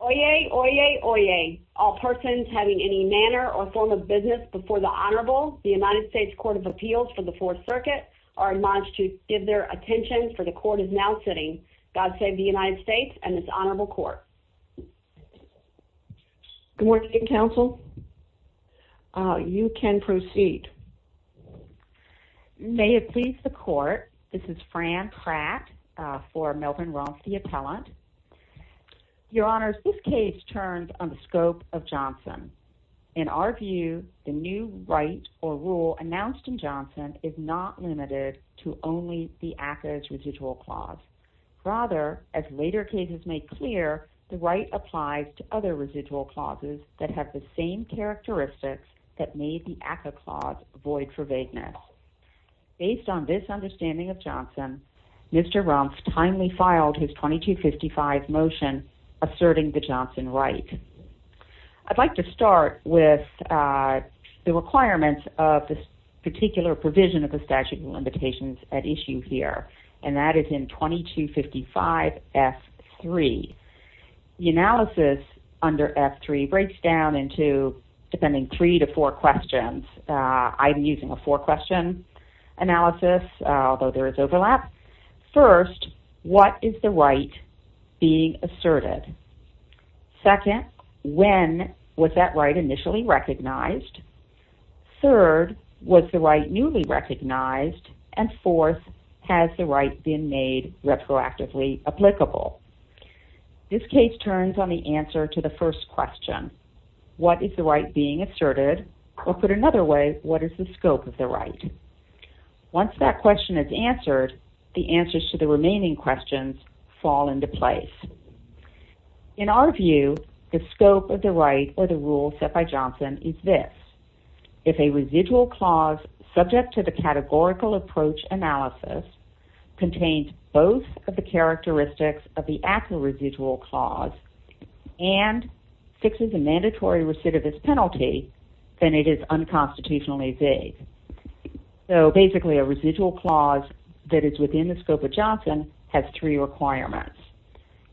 Oyez, oyez, oyez. All persons having any manner or form of business before the Honorable, the United States Court of Appeals for the Fourth Circuit, are admonished to give their attention, for the Court is now sitting. God save the United States and this Honorable Court. Good morning, Counsel. You can proceed. May it please the Court, this is Fran Pratt for Melvin Rumph, the appellant. Your Honors, this case turns on the scope of Johnson. In our view, the new right or rule announced in Johnson is not limited to only the ACCA's residual clause. Rather, as later cases make clear, the right applies to other residual clauses that have the same characteristics that made the ACCA clause void for vagueness. Based on this understanding of Johnson, Mr. Rumph timely filed his 2255 motion asserting the Johnson right. I'd like to start with the requirements of this particular provision of the statute of limitations at issue here, and that is in 2255F3. The analysis under three to four questions. I'm using a four-question analysis, although there is overlap. First, what is the right being asserted? Second, when was that right initially recognized? Third, was the right newly recognized? And fourth, has the right been made retroactively applicable? This case turns on the answer to the first question. What is the right being asserted? Or put another way, what is the scope of the right? Once that question is answered, the answers to the remaining questions fall into place. In our view, the scope of the right or the rule set by Johnson is this. If a residual clause subject to the categorical approach analysis contains both of the characteristics of the ACCA residual clause and fixes a mandatory recidivist penalty, then it is unconstitutionally vague. So basically, a residual clause that is within the scope of Johnson has three requirements.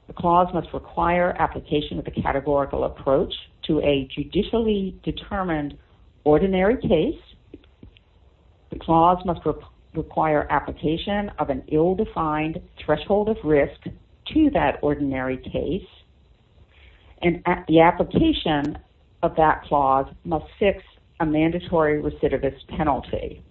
The clause must require application of a categorical approach to a judicially determined ordinary case. The clause must require application of an ill-defined threshold of risk to that ordinary case. And the application of that clause must fix a mandatory recidivist penalty.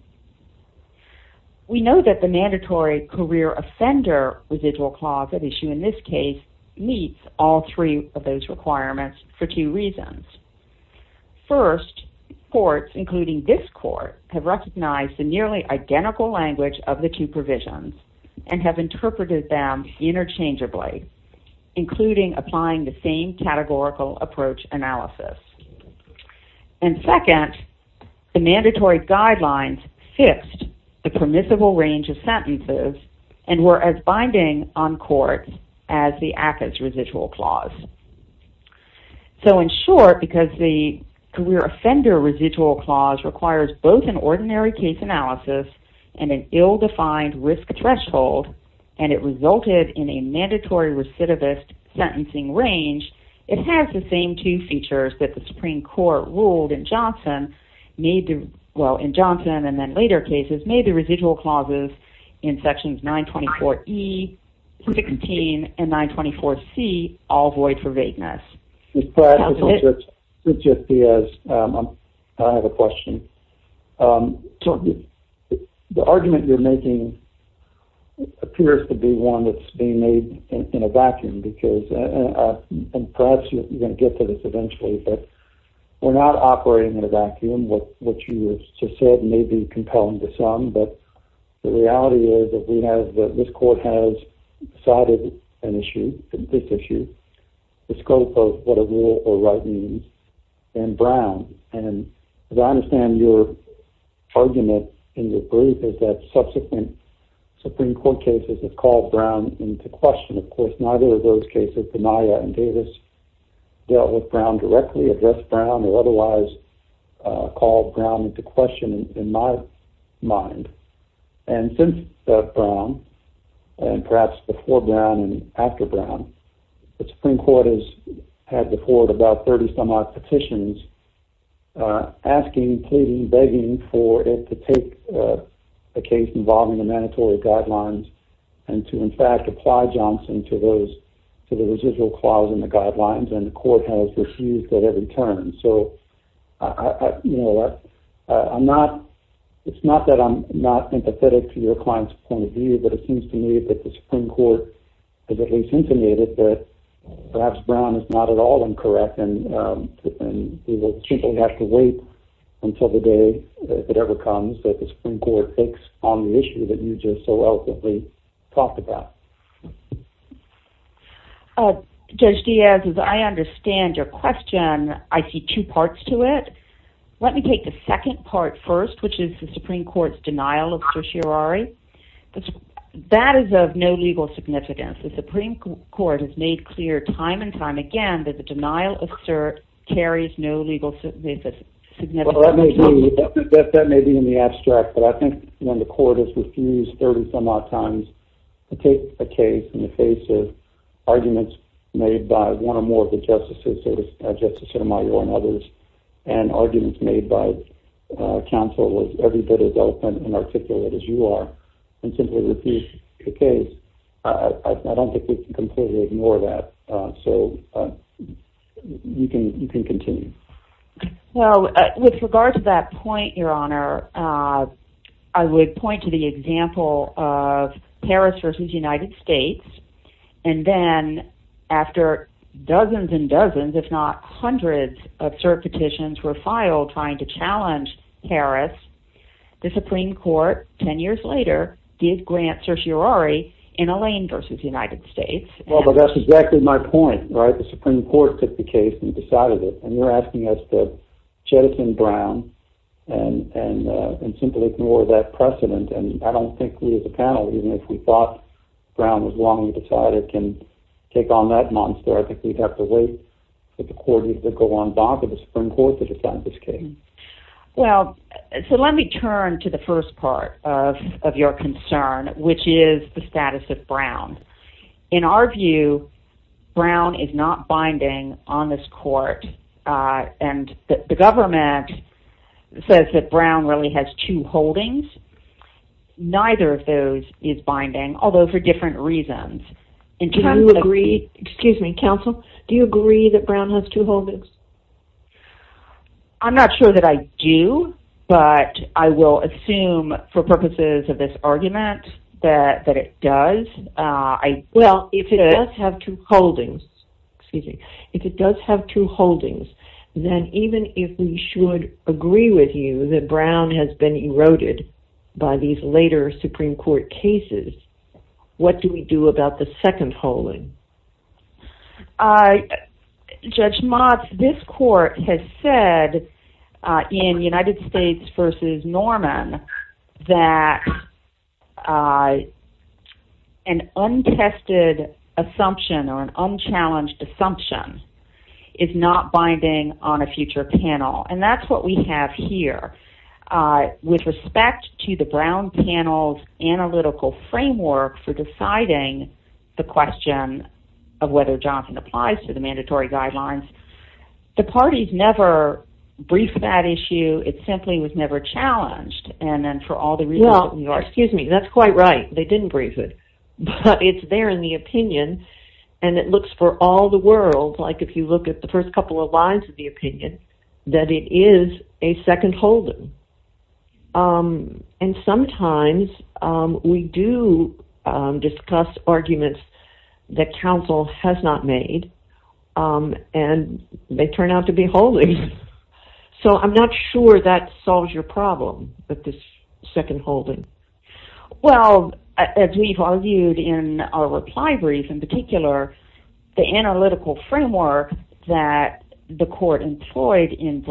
We know that the mandatory career offender residual clause at issue in this case meets all three of those requirements for two reasons. First, courts, including this court, have recognized the nearly identical language of the two provisions and have interpreted them interchangeably, including applying the same categorical approach analysis. And second, the mandatory guidelines fixed the permissible range of sentences and were as binding on courts as the ACCA's residual clause. So in short, because the career offender residual clause requires both an ordinary case analysis and an ill-defined risk threshold, and it resulted in a mandatory recidivist sentencing range, it has the same two features that the Supreme Court ruled in Johnson, well, in Johnson and then later cases, made the residual clauses in sections 924E, 16, and 924C all void for vagueness. Mr. Pratt, this is Jeff Diaz. I have a question. The argument you're making appears to be one that's being made in a vacuum because, and perhaps you're going to get to this eventually, but we're not operating in a vacuum. What you have just said may be compelling to some, but the reality is that we have, that this court has decided an issue, this issue, the scope of what a rule or right means, and Brown. And as I understand your argument in your brief is that subsequent Supreme Court cases have called Brown into question. Of course, neither of those cases, the Naya and Davis dealt with Brown directly, addressed Brown or otherwise called Brown into question in my mind. And since Brown, and perhaps before Brown and after Brown, the Supreme Court has had before it about 30 some odd petitions asking, pleading, begging for it to take a case involving the mandatory guidelines and to in fact apply Johnson to those, to the residual clause in the guidelines and the court has refused at every turn. So I, you know, I'm not, it's not that I'm not empathetic to your client's point of view, but it seems to me that the Supreme Court has at least intimated that perhaps Brown is not at all incorrect and we will simply have to wait until the day, if it ever comes, that the Supreme Court takes on the issue that you just so eloquently talked about. Judge Diaz, as I understand your question, I see two parts to it. Let me take the second part first, which is the Supreme Court's denial of certiorari. That is of no legal significance. The Supreme Court has made clear time and time again that the denial of cert carries no legal significance. That may be in the abstract, but I think when the court has refused 30 some odd times to take a case in the face of arguments made by one or more of the justices, Justice Sotomayor and others, and arguments made by counsel with every bit as open and articulate as you are, and simply refused the case, I don't think we can completely ignore that. So you can, you can continue. Well, with regard to that point, Your Honor, I would point to the example of Paris versus United States, and then after dozens and dozens, if not hundreds of cert petitions were filed trying to challenge Paris, the Supreme Court, 10 years later, did grant certiorari in Alain versus United States. Well, but that's exactly my point, right? The Supreme Court took the case and decided it, and you're asking us to jettison Brown, and simply ignore that precedent. And I don't think we as a panel, even if we thought Brown was wrongly decided, can take on that monster. I think we'd have to wait for the court to go on bond to the Supreme Court to decide this case. Well, so let me turn to the first part of your concern, which is the status of Brown. In our view, Brown is not binding on this court. And the government says that Brown really has two holdings. Neither of those is binding, although for different reasons. In terms of- Do you agree, excuse me, counsel, do you agree that Brown has two holdings? I'm not sure that I do. But I will assume for purposes of this argument, that it does. Well, if it does have two holdings, excuse me, if it does have two holdings, then even if we should agree with you that Brown has been eroded by these later Supreme Court cases, what do we do about the second holding? Judge Motz, this court has said in United States v. Norman, that an untested assumption or an unchallenged assumption is not binding on a future panel. And that's what we have here. With respect to the Brown panel's analytical framework for deciding the question of whether Johnson applies to the mandatory guidelines, the parties never briefed that issue. It simply was never challenged. And then for all the reasons you are, excuse me, that's quite right. They didn't brief it. But it's there in the opinion. And it looks for all the world, like if you look at the first couple of lines of the opinion, that it is a second holding. And sometimes we do discuss arguments that counsel has not made. And they turn out to be holdings. So I'm not sure that solves your problem with this second holding. Well, as we've argued in our reply brief in particular, the analytical framework that the court employed in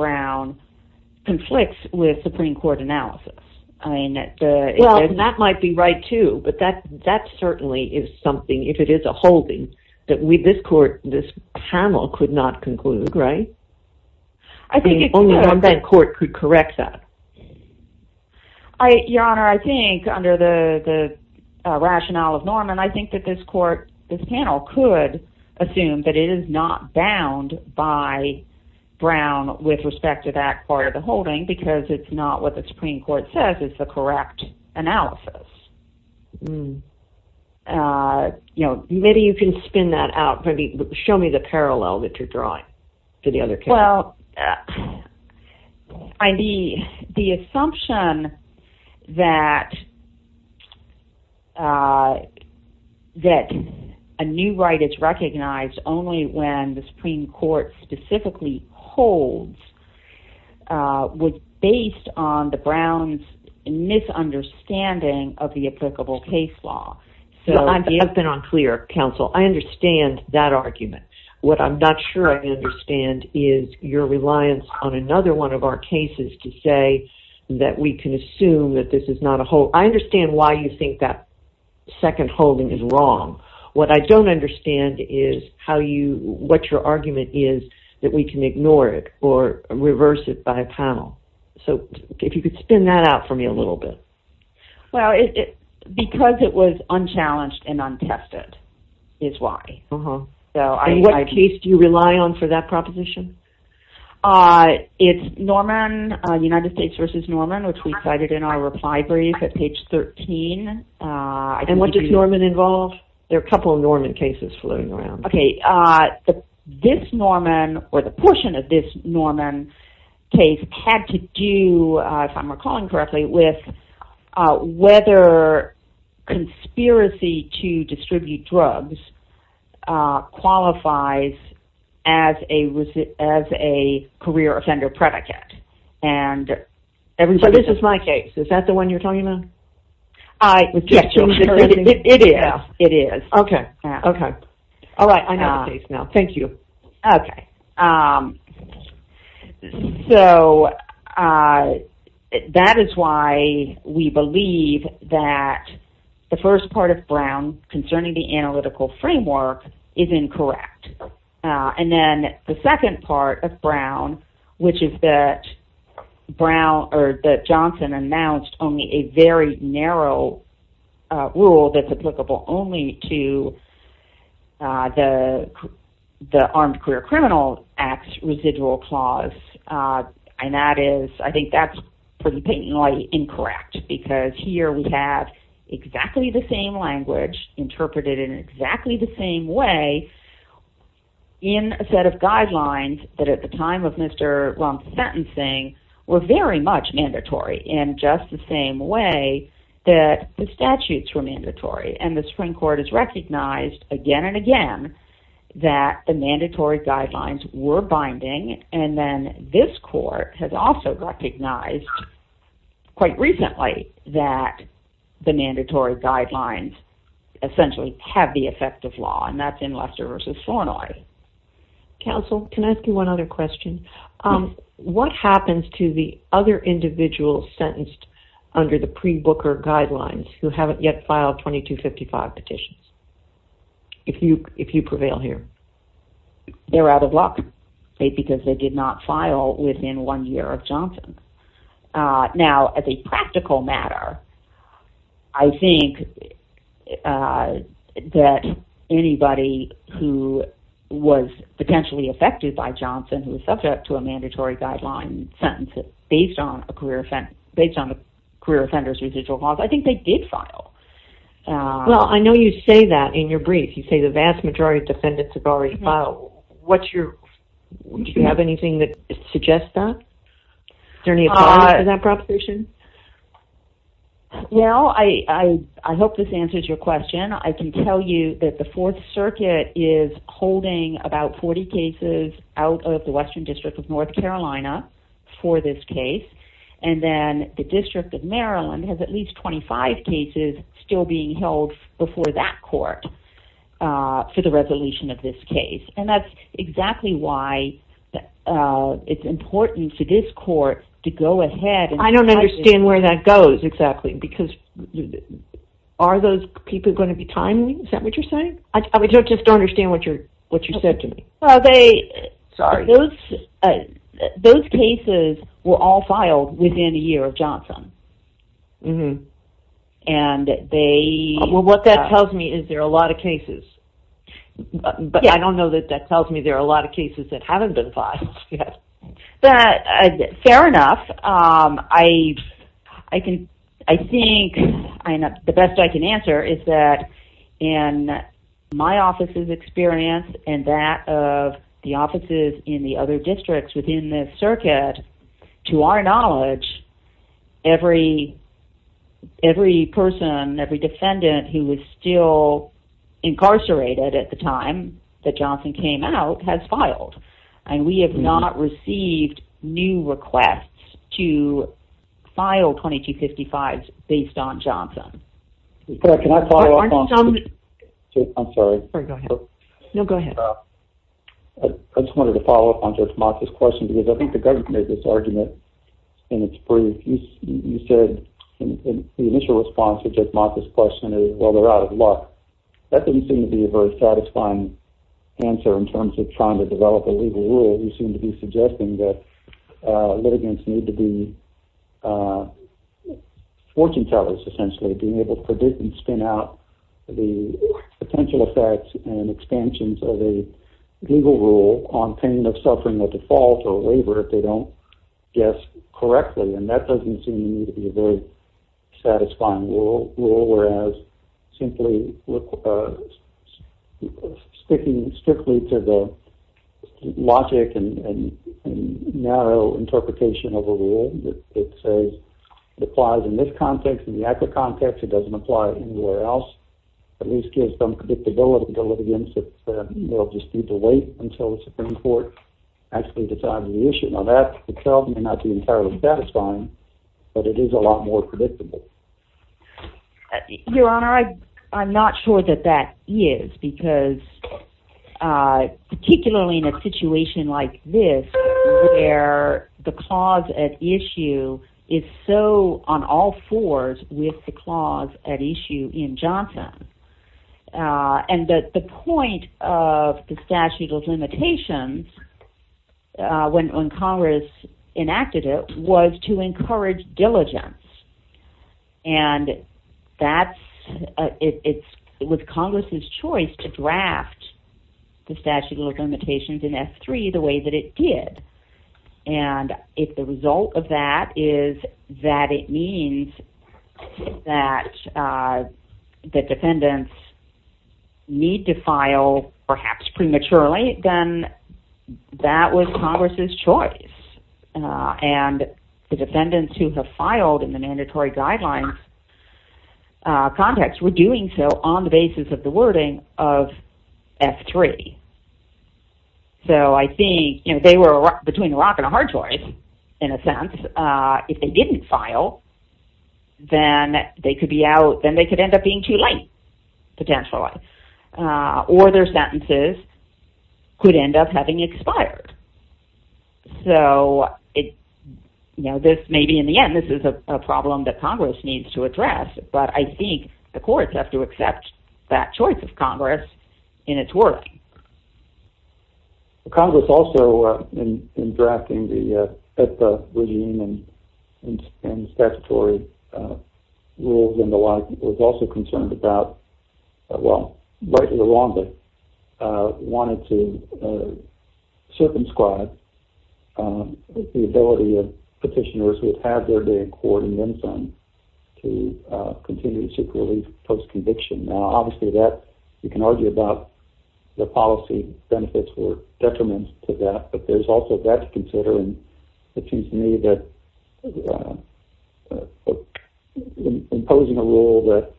with Supreme Court analysis. I mean, that might be right, too. But that that certainly is something if it is a holding that we this court, this panel could not conclude, right? I think that court could correct that. I, Your Honor, I think under the rationale of Norman, I think that this court, this panel could assume that it is not bound by Brown with respect to that part of the holding because it's not what the Supreme Court says is the correct analysis. You know, maybe you can spin that out. Maybe show me the parallel that you're drawing to the other. Well, the assumption that a new right is recognized only when the Supreme Court specifically holds was based on the Brown's misunderstanding of the applicable case law. I've been unclear, counsel. I understand that argument. What I'm not sure I understand is your reliance on another one of our cases to say that we can assume that this is not a whole. I understand why you think that second holding is wrong. What I don't understand is how you what your argument is that we can ignore it or reverse it by a panel. So if you could spin that out for me a little bit. Well, because it was unchallenged and untested is why. So what case do you rely on for that proposition? It's Norman, United States v. Norman, which we cited in our reply brief at page 13. And what does Norman involve? There are a couple of Norman cases floating around. Okay, this Norman or the portion of this Norman case had to do, if I'm recalling correctly, with whether conspiracy to distribute drugs qualifies as a career offender predicate. And so this is my case. Is that the one you're talking about? I was just curious. It is. It is. Okay. Okay. All right. I know the case now. Thank you. Okay. So that is why we believe that the first part of Brown concerning the analytical framework is incorrect. And then the second part of Brown, which is that Johnson announced only a very narrow rule that's applicable only to the Armed Career Criminals Act residual clause. And that is, I think that's pretty blatantly incorrect because here we have exactly the same language interpreted in exactly the same way in a set of guidelines that at the time of Mr. Rump's sentencing were very much mandatory in just the same way that the statutes were mandatory. And the Supreme Court has recognized again and again that the mandatory guidelines were binding. And then this court has also recognized quite recently that the mandatory guidelines essentially have the effect of law. And that's in Lester v. Flournoy. Counsel, can I ask you one other question? What happens to the other individuals sentenced under the pre-Booker guidelines who haven't yet filed 2255 petitions, if you prevail here? They're out of luck because they did not file within one year of Johnson. Now, as a practical matter, I think that anybody who was potentially affected by Johnson, who was subject to a mandatory guideline sentence based on a career offender's residual clause, I think they did file. Well, I know you say that in your brief. You say the vast majority of defendants have already filed. Do you have anything that suggests that? Is there any evidence for that proposition? Well, I hope this answers your question. I can tell you that the Fourth Circuit is holding about 40 cases out of the Western District of North Carolina for this case. And then the District of Maryland has at least 25 cases still being held before that court for the resolution of this case. And that's exactly why it's important to this court to go ahead. I don't understand where that goes exactly. Because are those people going to be timely? Is that what you're saying? I just don't understand what you're what you said to me. Well, they sorry, those those cases were all filed within a year of Johnson. And they were what that tells me is there are a lot of cases, but I don't know that that tells me there are a lot of cases that haven't been filed. But fair enough, I, I can, I think the best I can answer is that in my office's experience and that of the offices in the other districts within the circuit, to our knowledge, every, every person, every defendant who was still incarcerated at the time that Johnson came out has filed. And we have not received new requests to file 2255 based on Johnson. Can I follow up? I'm sorry. No, go ahead. I just wanted to follow up on this question, because I think the government made this argument. And it's pretty, you said in the initial response to this question is, well, they're out of luck. That doesn't seem to be a very satisfying answer in terms of trying to develop a legal rule. You seem to be suggesting that litigants need to be fortune tellers, essentially being able to predict and spin out the potential effects and expansions of a legal rule on pain of suffering a default or waiver if they don't guess correctly. And that doesn't seem to be a very satisfying rule, whereas simply sticking strictly to the logic and narrow interpretation of a rule that says it applies in this context, in the actual context, it doesn't apply anywhere else, at least gives some predictability to litigants that they'll just need to wait until the Supreme Court actually decides the issue. Now, that itself may not be entirely satisfying, but it is a lot more predictable. Your Honor, I'm not sure that that is, because particularly in a situation like this, where the clause at issue is so on all fours with the clause at issue in Johnson, and that the point of the statute of limitations, when Congress enacted it, was to encourage diligence. And that's, it was Congress's choice to draft the statute of limitations in S.3 the way that it did. And if the result of that is that it means that the defendants need to file, perhaps prematurely, then that was Congress's choice, and the defendants who have filed in the mandatory guidelines context were doing so on the basis of the wording of S.3. So I think, you know, they were between a rock and a hard choice, in a sense, if they didn't file, then they could be out, then they could end up being too late, potentially, or their sentences could end up having expired. So, you know, this may be, in the end, this is a problem that Congress needs to address, but I think the courts have to accept that choice of Congress in its work. Congress also, in drafting the PEPA regime and statutory rules and the like, was also concerned about, well, rightly or wrongly, wanted to circumscribe the ability of petitioners who have their day in court and then some to continue to seek relief post-conviction. Now, obviously, that, you can argue about the policy benefits or detriments to that, but there's also that to consider, and it seems to me that imposing a rule that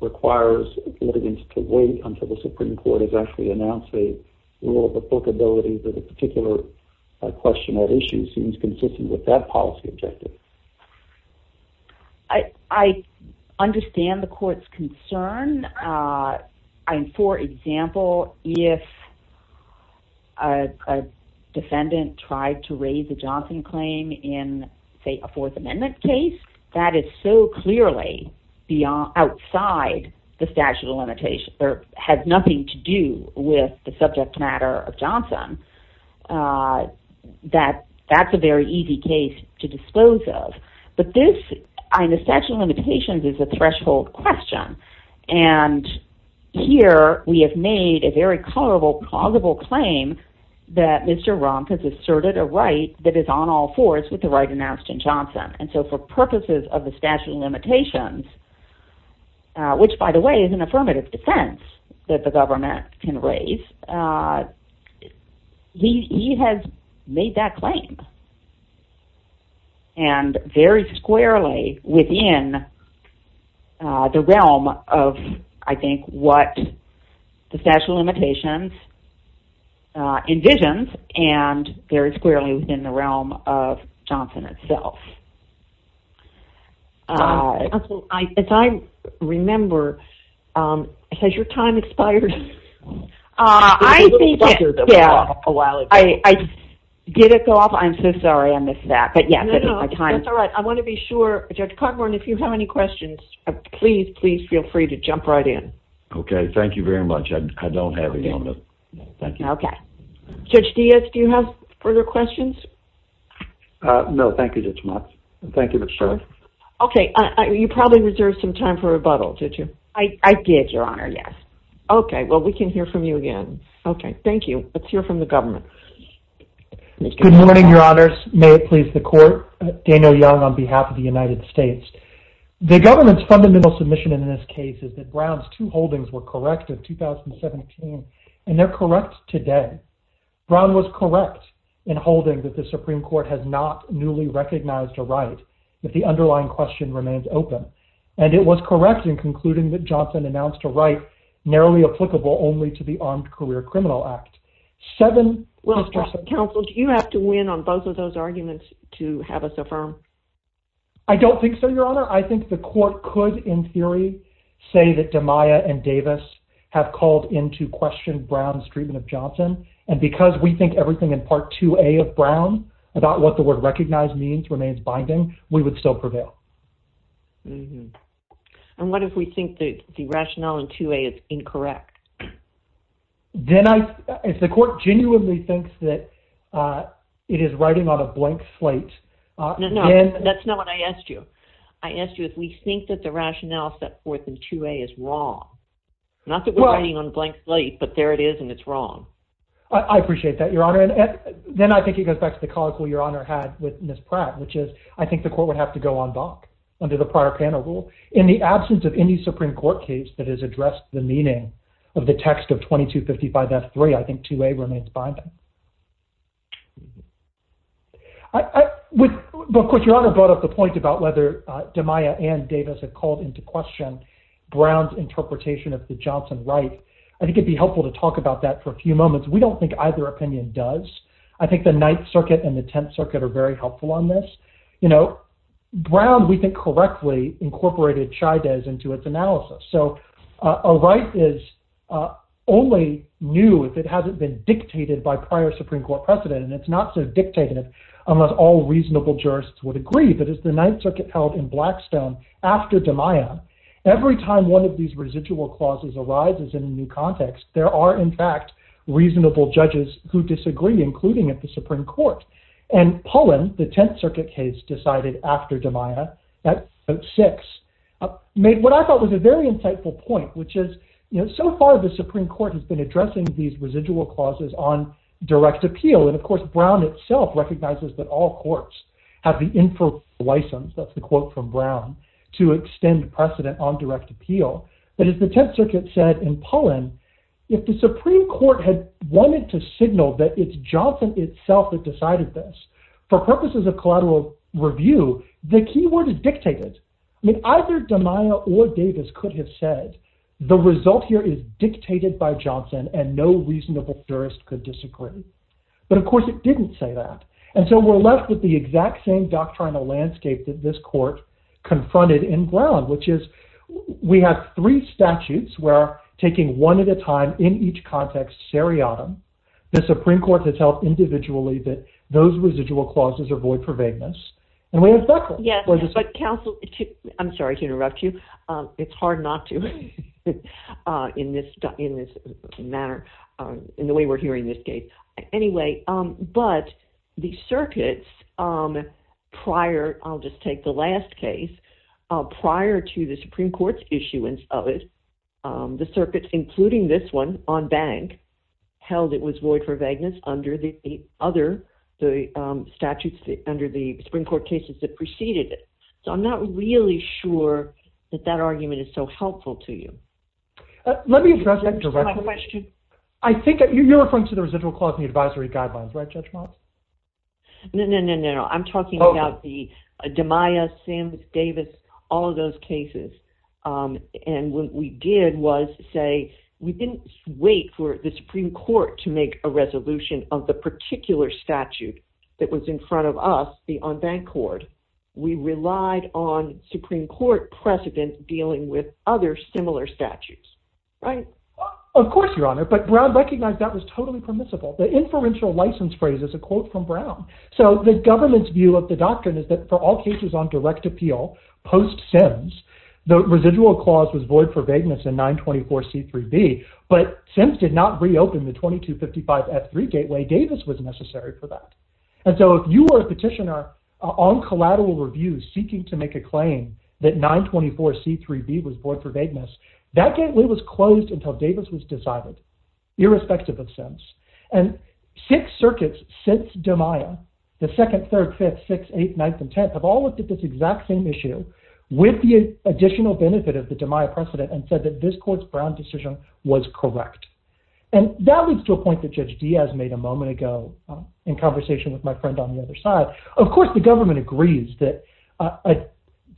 requires litigants to wait until the Supreme Court has actually announced a rule of applicability for the particular question or issue seems consistent with that policy objective. I understand the court's concern. I mean, for example, if a defendant tried to raise a Johnson claim in, say, a Fourth Amendment case, that is so clearly outside the statute of limitations, or has nothing to do with the subject matter of Johnson, that that's a very easy case to disclose of. But this, I mean, the statute of limitations is a threshold question, and here we have made a very colorable, plausible claim that Mr. Rumpf has asserted a right that is on all fours with the right announced in Johnson, and so for purposes of the statute of limitations, which, by the way, is an affirmative defense that the government can raise, he has made that claim. And very squarely within the realm of, I think, what the statute of limitations envisions, and very squarely within the realm of Johnson itself. As I remember, has your time expired? I did it go off? I'm so sorry. I missed that, but yes, it is my time. That's all right. I want to be sure. Judge Cogburn, if you have any questions, please, please feel free to jump right in. Okay, thank you very much. I don't have any on this. Thank you. Okay. Judge Diaz, do you have further questions? No, thank you, Judge Mott. Thank you, Ms. Strunk. Okay, you probably reserved some time for rebuttal, did you? I did, Your Honor, yes. Okay, well, we can hear from you again. Okay, thank you. Let's hear from the government. Good morning, Your Honors. May it please the Court. Daniel Young on behalf of the United States. The government's fundamental submission in this case is that Brown's two holdings were correct in 2017, and they're correct today. Brown was correct in holding that the Supreme Court has not newly recognized a right if the underlying question remains open, and it was correct in concluding that Johnson announced a right narrowly applicable only to the Armed Career Criminal Act. Well, Counsel, do you have to win on both of those arguments to have us affirm? I don't think so, Your Honor. I think the Court could, in theory, say that DiMaia and Davis have called into question Brown's treatment of Johnson, and because we think everything in Part 2A of Brown about what the word recognize means remains binding, we would still prevail. And what if we think that the rationale in 2A is incorrect? Then I – if the Court genuinely thinks that it is writing on a blank slate – No, no, that's not what I asked you. I asked you if we think that the rationale set forth in 2A is wrong. Not that we're writing on a blank slate, but there it is, and it's wrong. I appreciate that, Your Honor. And then I think it goes back to the colloquy Your Honor had with Ms. Pratt, which is I think the Court would have to go en banc under the prior panel rule. In the absence of any Supreme Court case that has addressed the meaning of the text of 2255F3, I think 2A remains binding. But, of course, Your Honor brought up the point about whether DiMaia and Davis had called into question Brown's interpretation of the Johnson right. I think it would be helpful to talk about that for a few moments. We don't think either opinion does. I think the Ninth Circuit and the Tenth Circuit are very helpful on this. You know, Brown, we think correctly, incorporated Chaidez into its analysis. So a right is only new if it hasn't been dictated by prior Supreme Court precedent, and it's not so dictated unless all reasonable jurists would agree. But as the Ninth Circuit held in Blackstone after DiMaia, every time one of these residual clauses arises in a new context, there are, in fact, reasonable judges who disagree, including at the Supreme Court. And Pullen, the Tenth Circuit case decided after DiMaia, at 6, made what I thought was a very insightful point, which is, you know, so far the Supreme Court has been addressing these residual clauses on direct appeal. And, of course, Brown itself recognizes that all courts have the inferior license, that's the quote from Brown, to extend precedent on direct appeal. But as the Tenth Circuit said in Pullen, if the Supreme Court had wanted to signal that it's Johnson itself that decided this, for purposes of collateral review, the key word is dictated. I mean, either DiMaia or Davis could have said, the result here is dictated by Johnson and no reasonable jurist could disagree. But, of course, it didn't say that. And so we're left with the exact same doctrinal landscape that this court confronted in Brown, which is, we have three statutes where, taking one at a time in each context seriatim, the Supreme Court has held individually that those residual clauses are void for vagueness. And we have Beckler. Yes, but counsel, I'm sorry to interrupt you. It's hard not to in this manner, in the way we're hearing this case. Anyway, but the circuits prior, I'll just take the last case, prior to the Supreme Court's issuance of it, the circuits, including this one on Bank, held it was void for vagueness under the other statutes, under the Supreme Court cases that preceded it. So I'm not really sure that that argument is so helpful to you. Let me address that directly. I have a question. I think you're referring to the residual clause in the advisory guidelines, right, Judge Moss? No, no, no, no, no. I'm talking about the DeMaia, Sam, Davis, all of those cases. And what we did was say we didn't wait for the Supreme Court to make a resolution of the particular statute that was in front of us, the on-bank court. We relied on Supreme Court precedents dealing with other similar statutes, right? Of course, Your Honor, but Brown recognized that was totally permissible. The inferential license phrase is a quote from Brown. So the government's view of the doctrine is that for all cases on direct appeal, post-SIMS, the residual clause was void for vagueness in 924C3B, but SIMS did not reopen the 2255F3 gateway. Davis was necessary for that. And so if you were a petitioner on collateral reviews seeking to make a claim that 924C3B was void for vagueness, that gateway was closed until Davis was decided, irrespective of SIMS. And six circuits since DeMaia, the 2nd, 3rd, 5th, 6th, 8th, 9th, and 10th, have all looked at this exact same issue with the additional benefit of the DeMaia precedent and said that this court's Brown decision was correct. And that leads to a point that Judge Diaz made a moment ago in conversation with my friend on the other side. Of course, the government agrees that a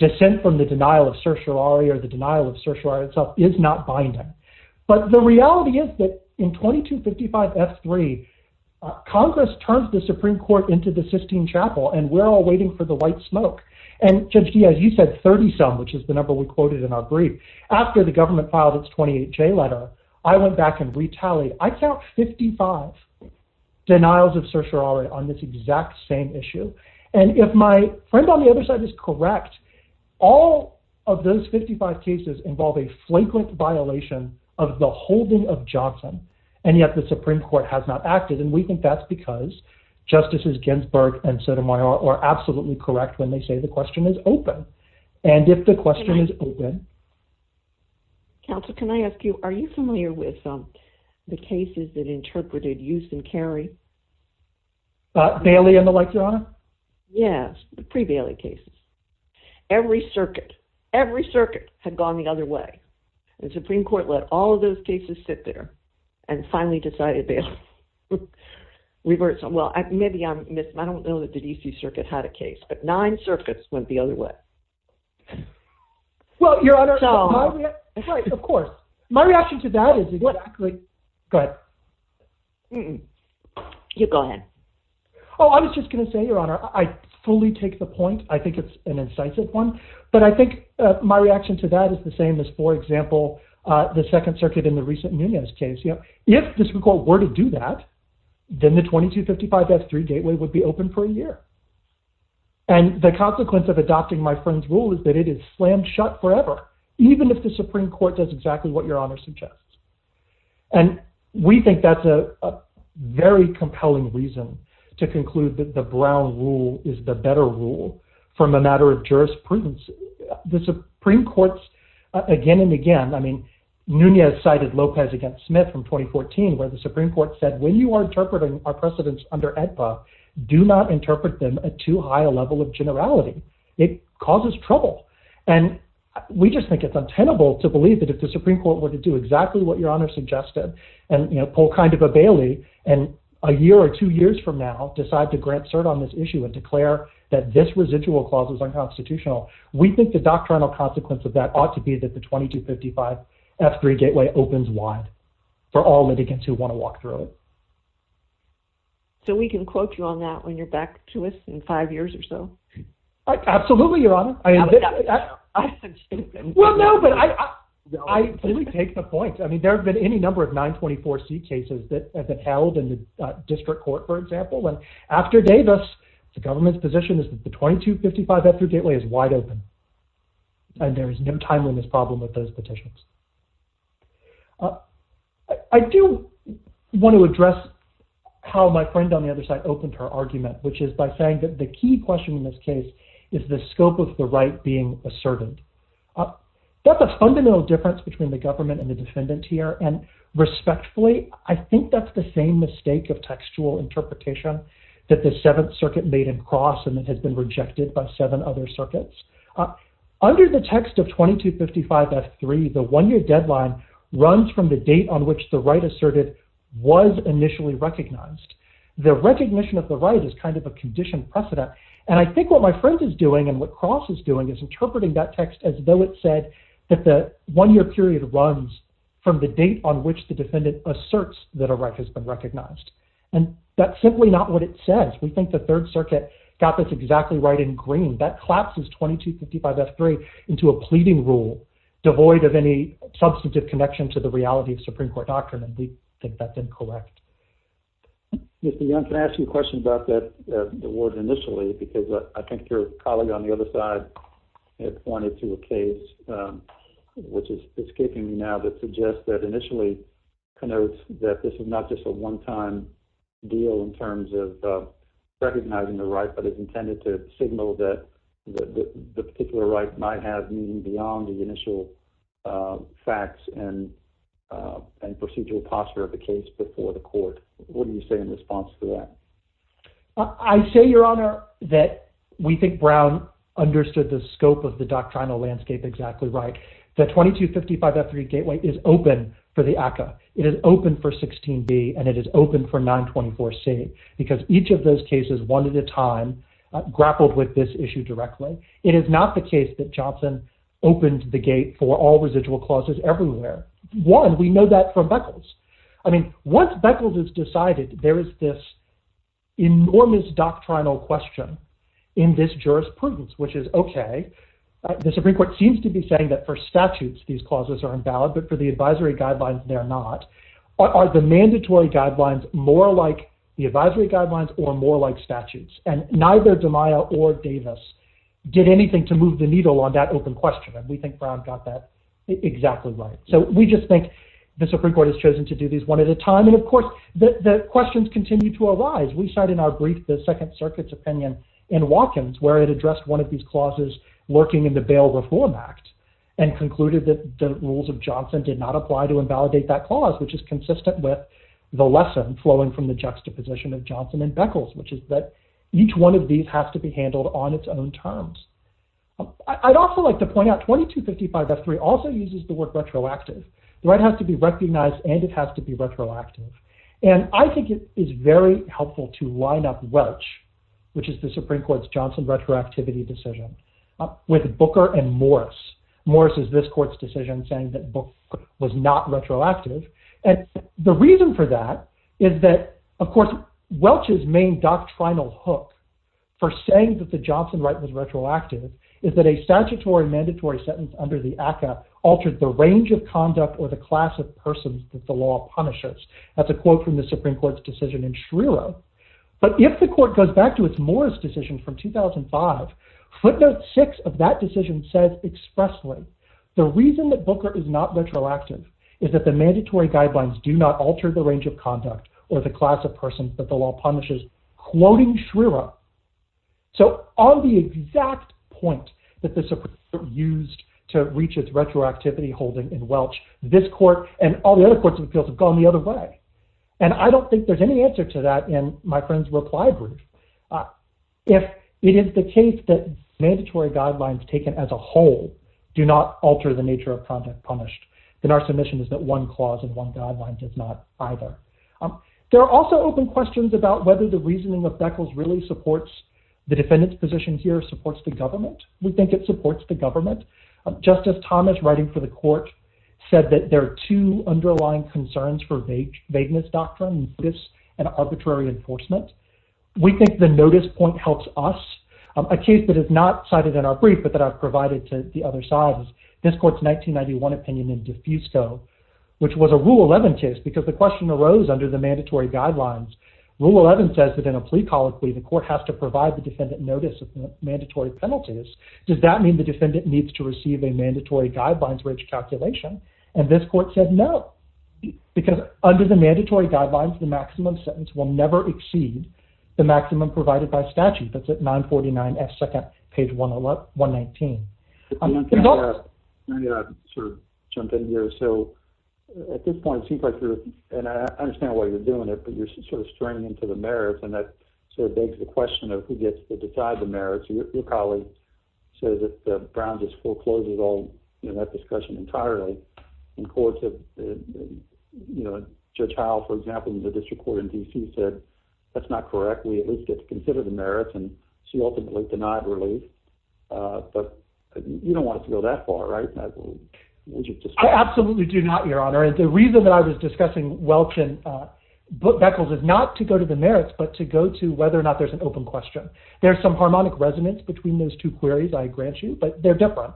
dissent from the denial of certiorari or the denial of certiorari itself is not binding. But the reality is that in 2255F3, Congress turns the Supreme Court into the Sistine Chapel, and we're all waiting for the white smoke. And Judge Diaz, you said 30-some, which is the number we quoted in our brief. After the government filed its 28J letter, I went back and retallied. I count 55 denials of certiorari on this exact same issue. And if my friend on the other side is correct, all of those 55 cases involve a flagrant violation of the holding of Johnson, and yet the Supreme Court has not acted. And we think that's because Justices Ginsburg and Sotomayor are absolutely correct when they say the question is open. And if the question is open. Counsel, can I ask you, are you familiar with the cases that interpreted Euston Carey? Bailey and the like, Your Honor? Yes, the pre-Bailey cases. Every circuit, every circuit had gone the other way. And the Supreme Court let all of those cases sit there and finally decided Bailey. Well, maybe I'm missing. I don't know that the DC Circuit had a case, but nine circuits went the other way. Well, Your Honor, of course. My reaction to that is exactly. Go ahead. You go ahead. Oh, I was just going to say, Your Honor, I fully take the point. I think it's an incisive one. But I think my reaction to that is the same as, for example, the Second Circuit in the recent Nunez case. If the Supreme Court were to do that, then the 2255F3 gateway would be open for a year. And the consequence of adopting my friend's rule is that it is slammed shut forever, even if the Supreme Court does exactly what Your Honor suggests. And we think that's a very compelling reason to conclude that the Brown rule is the better rule from a matter of jurisprudence. The Supreme Court's again and again, I mean, Nunez cited Lopez against Smith from 2014, where the Supreme Court said, when you are interpreting our precedents under AEDPA, do not interpret them at too high a level of generality. It causes trouble. And we just think it's untenable to believe that if the Supreme Court were to do exactly what Your Honor suggested and, you know, pull kind of a Bailey and a year or two years from now decide to grant cert on this issue and declare that this residual clause is unconstitutional, we think the doctrinal consequence of that ought to be that the 2255F3 gateway opens wide for all litigants who want to walk through it. So we can quote you on that when you're back to us in five years or so? Absolutely, Your Honor. Well, no, but I really take the point. I mean, there have been any number of 924C cases that have been held in the district court, for example. And after Davis, the government's position is that the 2255F3 gateway is wide open. And there is no timeliness problem with those petitions. I do want to address how my friend on the other side opened her argument, which is by saying that the key question in this case is the scope of the right being asserted. That's a fundamental difference between the government and the defendant here. And respectfully, I think that's the same mistake of textual interpretation that the Seventh Circuit made in Cross and it has been rejected by seven other circuits. Under the text of 2255F3, the one-year deadline runs from the date on which the right asserted was initially recognized. The recognition of the right is kind of a conditioned precedent. And I think what my friend is doing and what Cross is doing is interpreting that text as though it said that the one-year period runs from the date on which the defendant asserts that a right has been recognized. And that's simply not what it says. We think the Third Circuit got this exactly right in green. That collapses 2255F3 into a pleading rule devoid of any substantive connection to the reality of Supreme Court doctrine, and we think that's incorrect. Mr. Young, can I ask you a question about the word initially? Because I think your colleague on the other side had pointed to a case, which is escaping me now, that suggests that initially connotes that this is not just a one-time deal in terms of recognizing the right, but is intended to signal that the particular right might have meaning beyond the initial facts and procedural posture of the case before the court. What do you say in response to that? I say, Your Honor, that we think Brown understood the scope of the doctrinal landscape exactly right. The 2255F3 gateway is open for the ACCA. It is open for 16B, and it is open for 924C, because each of those cases, one at a time, grappled with this issue directly. It is not the case that Johnson opened the gate for all residual clauses everywhere. One, we know that from Beckles. I mean, once Beckles has decided there is this enormous doctrinal question in this jurisprudence, which is okay. The Supreme Court seems to be saying that for statutes, these clauses are invalid, but for the advisory guidelines, they are not. Are the mandatory guidelines more like the advisory guidelines or more like statutes? And neither DeMaio or Davis did anything to move the needle on that open question. And we think Brown got that exactly right. So we just think the Supreme Court has chosen to do these one at a time. And of course, the questions continue to arise. We cite in our brief the Second Circuit's opinion in Watkins, where it addressed one of these clauses lurking in the Bail Reform Act, and concluded that the rules of Johnson did not apply to invalidate that clause, which is consistent with the lesson flowing from the juxtaposition of Johnson and Beckles, which is that each one of these has to be handled on its own terms. I'd also like to point out 2255F3 also uses the word retroactive. The right has to be recognized, and it has to be retroactive. And I think it is very helpful to line up Welch, which is the Supreme Court's Johnson retroactivity decision, with Booker and Morris. Morris is this court's decision saying that Booker was not retroactive. And the reason for that is that, of course, Welch's main doctrinal hook for saying that the Johnson right was retroactive is that a statutory mandatory sentence under the ACCA altered the range of conduct or the class of persons that the law punishes. That's a quote from the Supreme Court's decision in Schreierow. But if the court goes back to its Morris decision from 2005, footnote 6 of that decision says expressly, the reason that Booker is not retroactive is that the mandatory guidelines do not alter the range of conduct or the class of persons that the law punishes, quoting Schreierow. So on the exact point that the Supreme Court used to reach its retroactivity holding in Welch, this court and all the other courts of appeals have gone the other way. And I don't think there's any answer to that in my friend's reply brief. If it is the case that mandatory guidelines taken as a whole do not alter the nature of conduct punished, then our submission is that one clause in one guideline does not either. There are also open questions about whether the reasoning of Beckles really supports the defendant's position here, supports the government. We think it supports the government. Justice Thomas, writing for the court, said that there are two underlying concerns for vagueness doctrine, notice and arbitrary enforcement. We think the notice point helps us. A case that is not cited in our brief but that I've provided to the other side is this court's 1991 opinion in Defusco, which was a Rule 11 case because the question arose under the mandatory guidelines. Rule 11 says that in a plea colloquy, the court has to provide the defendant notice of mandatory penalties. Does that mean the defendant needs to receive a mandatory guidelines-rich calculation? And this court said no, because under the mandatory guidelines, the maximum sentence will never exceed the maximum provided by statute. That's at 949F2nd, page 119. I'm going to jump in here. So at this point, it seems like you're, and I understand why you're doing it, but you're sort of straining into the merits, and your colleague says that Brown just forecloses all that discussion entirely in court. Judge Howell, for example, in the district court in D.C., said that's not correct. We at least get to consider the merits, and she ultimately denied relief. But you don't want it to go that far, right? I absolutely do not, Your Honor, and the reason that I was discussing Welkin-Beckles is not to go to the merits but to go to whether or not there's an open question. There's some harmonic resonance between those two queries, I grant you, but they're different.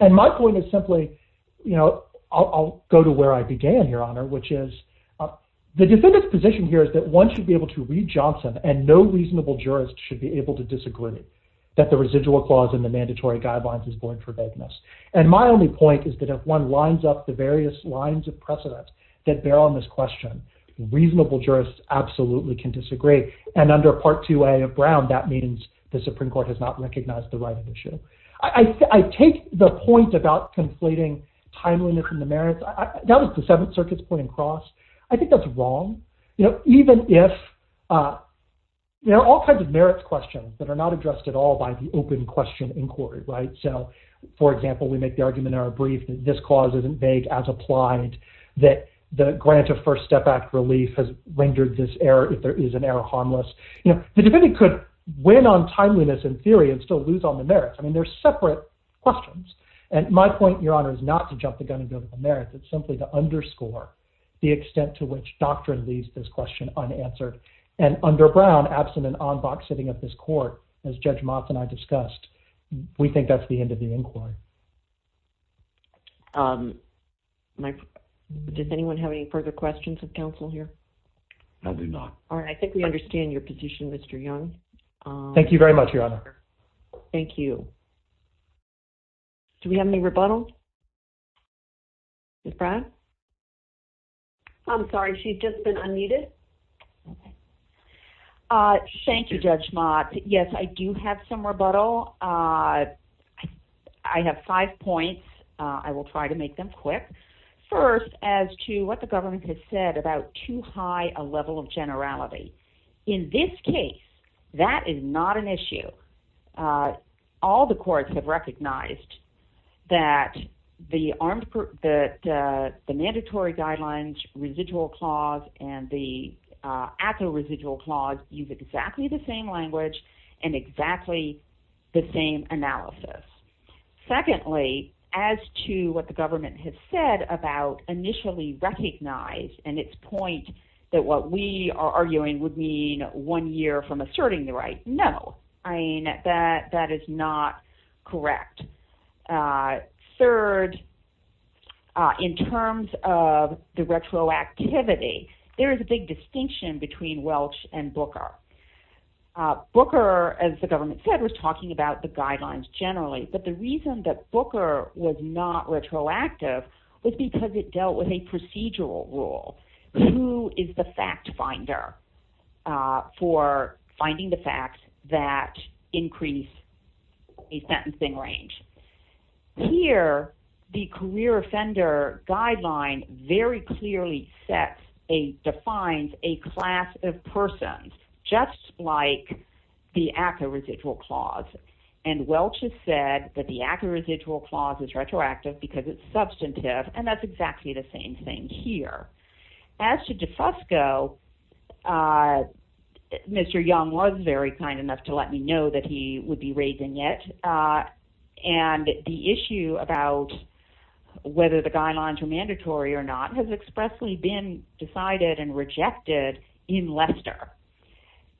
And my point is simply, you know, I'll go to where I began, Your Honor, which is the defendant's position here is that one should be able to read Johnson and no reasonable jurist should be able to disagree that the residual clause in the mandatory guidelines is going for vagueness. And my only point is that if one lines up the various lines of precedent that bear on this question, reasonable jurists absolutely can disagree. And under Part 2A of Brown, that means the Supreme Court has not recognized the right of issue. I take the point about conflating timeliness and the merits. That was the Seventh Circuit's point across. I think that's wrong, you know, even if there are all kinds of merits questions that are not addressed at all by the open question inquiry, right? So, for example, we make the argument in our brief that this clause isn't vague as applied, that the grant of First Step Act relief has rendered this error, if there is an error, harmless. You know, the defendant could win on timeliness in theory and still lose on the merits. I mean, they're separate questions. And my point, Your Honor, is not to jump the gun and go to the merits. It's simply to underscore the extent to which doctrine leaves this question unanswered. And under Brown, absent an en banc sitting at this court, as Judge Motz and I discussed, we think that's the end of the inquiry. Does anyone have any further questions of counsel here? I do not. All right. I think we understand your position, Mr. Young. Thank you very much, Your Honor. Thank you. Do we have any rebuttal? Ms. Brown? I'm sorry. She's just been unmuted. Thank you, Judge Motz. Yes, I do have some rebuttal. I have five points. I will try to make them quick. First, as to what the government has said about too high a level of generality. In this case, that is not an issue. All the courts have recognized that the mandatory guidelines, residual clause, and the actual residual clause use exactly the same language and exactly the same analysis. Secondly, as to what the government has said about initially recognize, and its point that what we are arguing would mean one year from asserting the right, no. That is not correct. Third, in terms of the retroactivity, there is a big distinction between Welch and Booker. Booker, as the government said, was talking about the guidelines generally. But the reason that Booker was not retroactive was because it dealt with a procedural rule. Who is the fact finder for finding the facts that increase a sentencing range? Here, the career offender guideline very clearly defines a class of persons, just like the actual residual clause. Welch has said that the actual residual clause is retroactive because it is substantive. And that is exactly the same thing here. As to DeFosco, Mr. Young was very kind enough to let me know that he would be raising it. And the issue about whether the guidelines were mandatory or not has expressly been decided and rejected in Lester.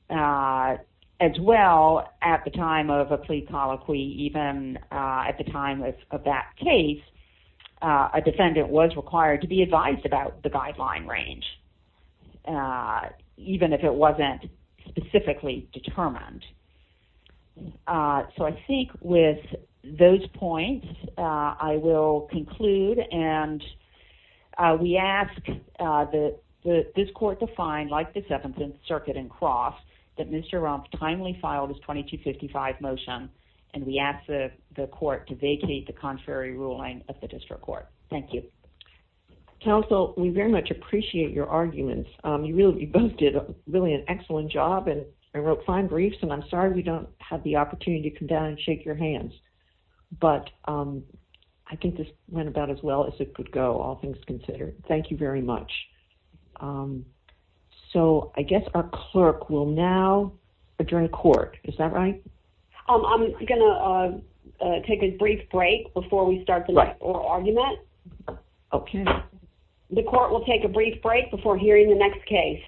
As well, at the time of a plea colloquy, even at the time of that case, a defendant was required to be advised about the guideline range, even if it wasn't specifically determined. So I think with those points, I will conclude. And we ask this court to find, like the Seventh Circuit and Cross, that Mr. Rumpf timely filed his 2255 motion. And we ask the court to vacate the contrary ruling of the district court. Thank you. Counsel, we very much appreciate your arguments. You both did really an excellent job and wrote fine briefs. And I'm sorry we don't have the opportunity to come down and shake your hands. But I think this went about as well as it could go, all things considered. Thank you very much. So I guess our clerk will now adjourn court. Is that right? I'm going to take a brief break before we start the next oral argument. Okay. The court will take a brief break before hearing the next case.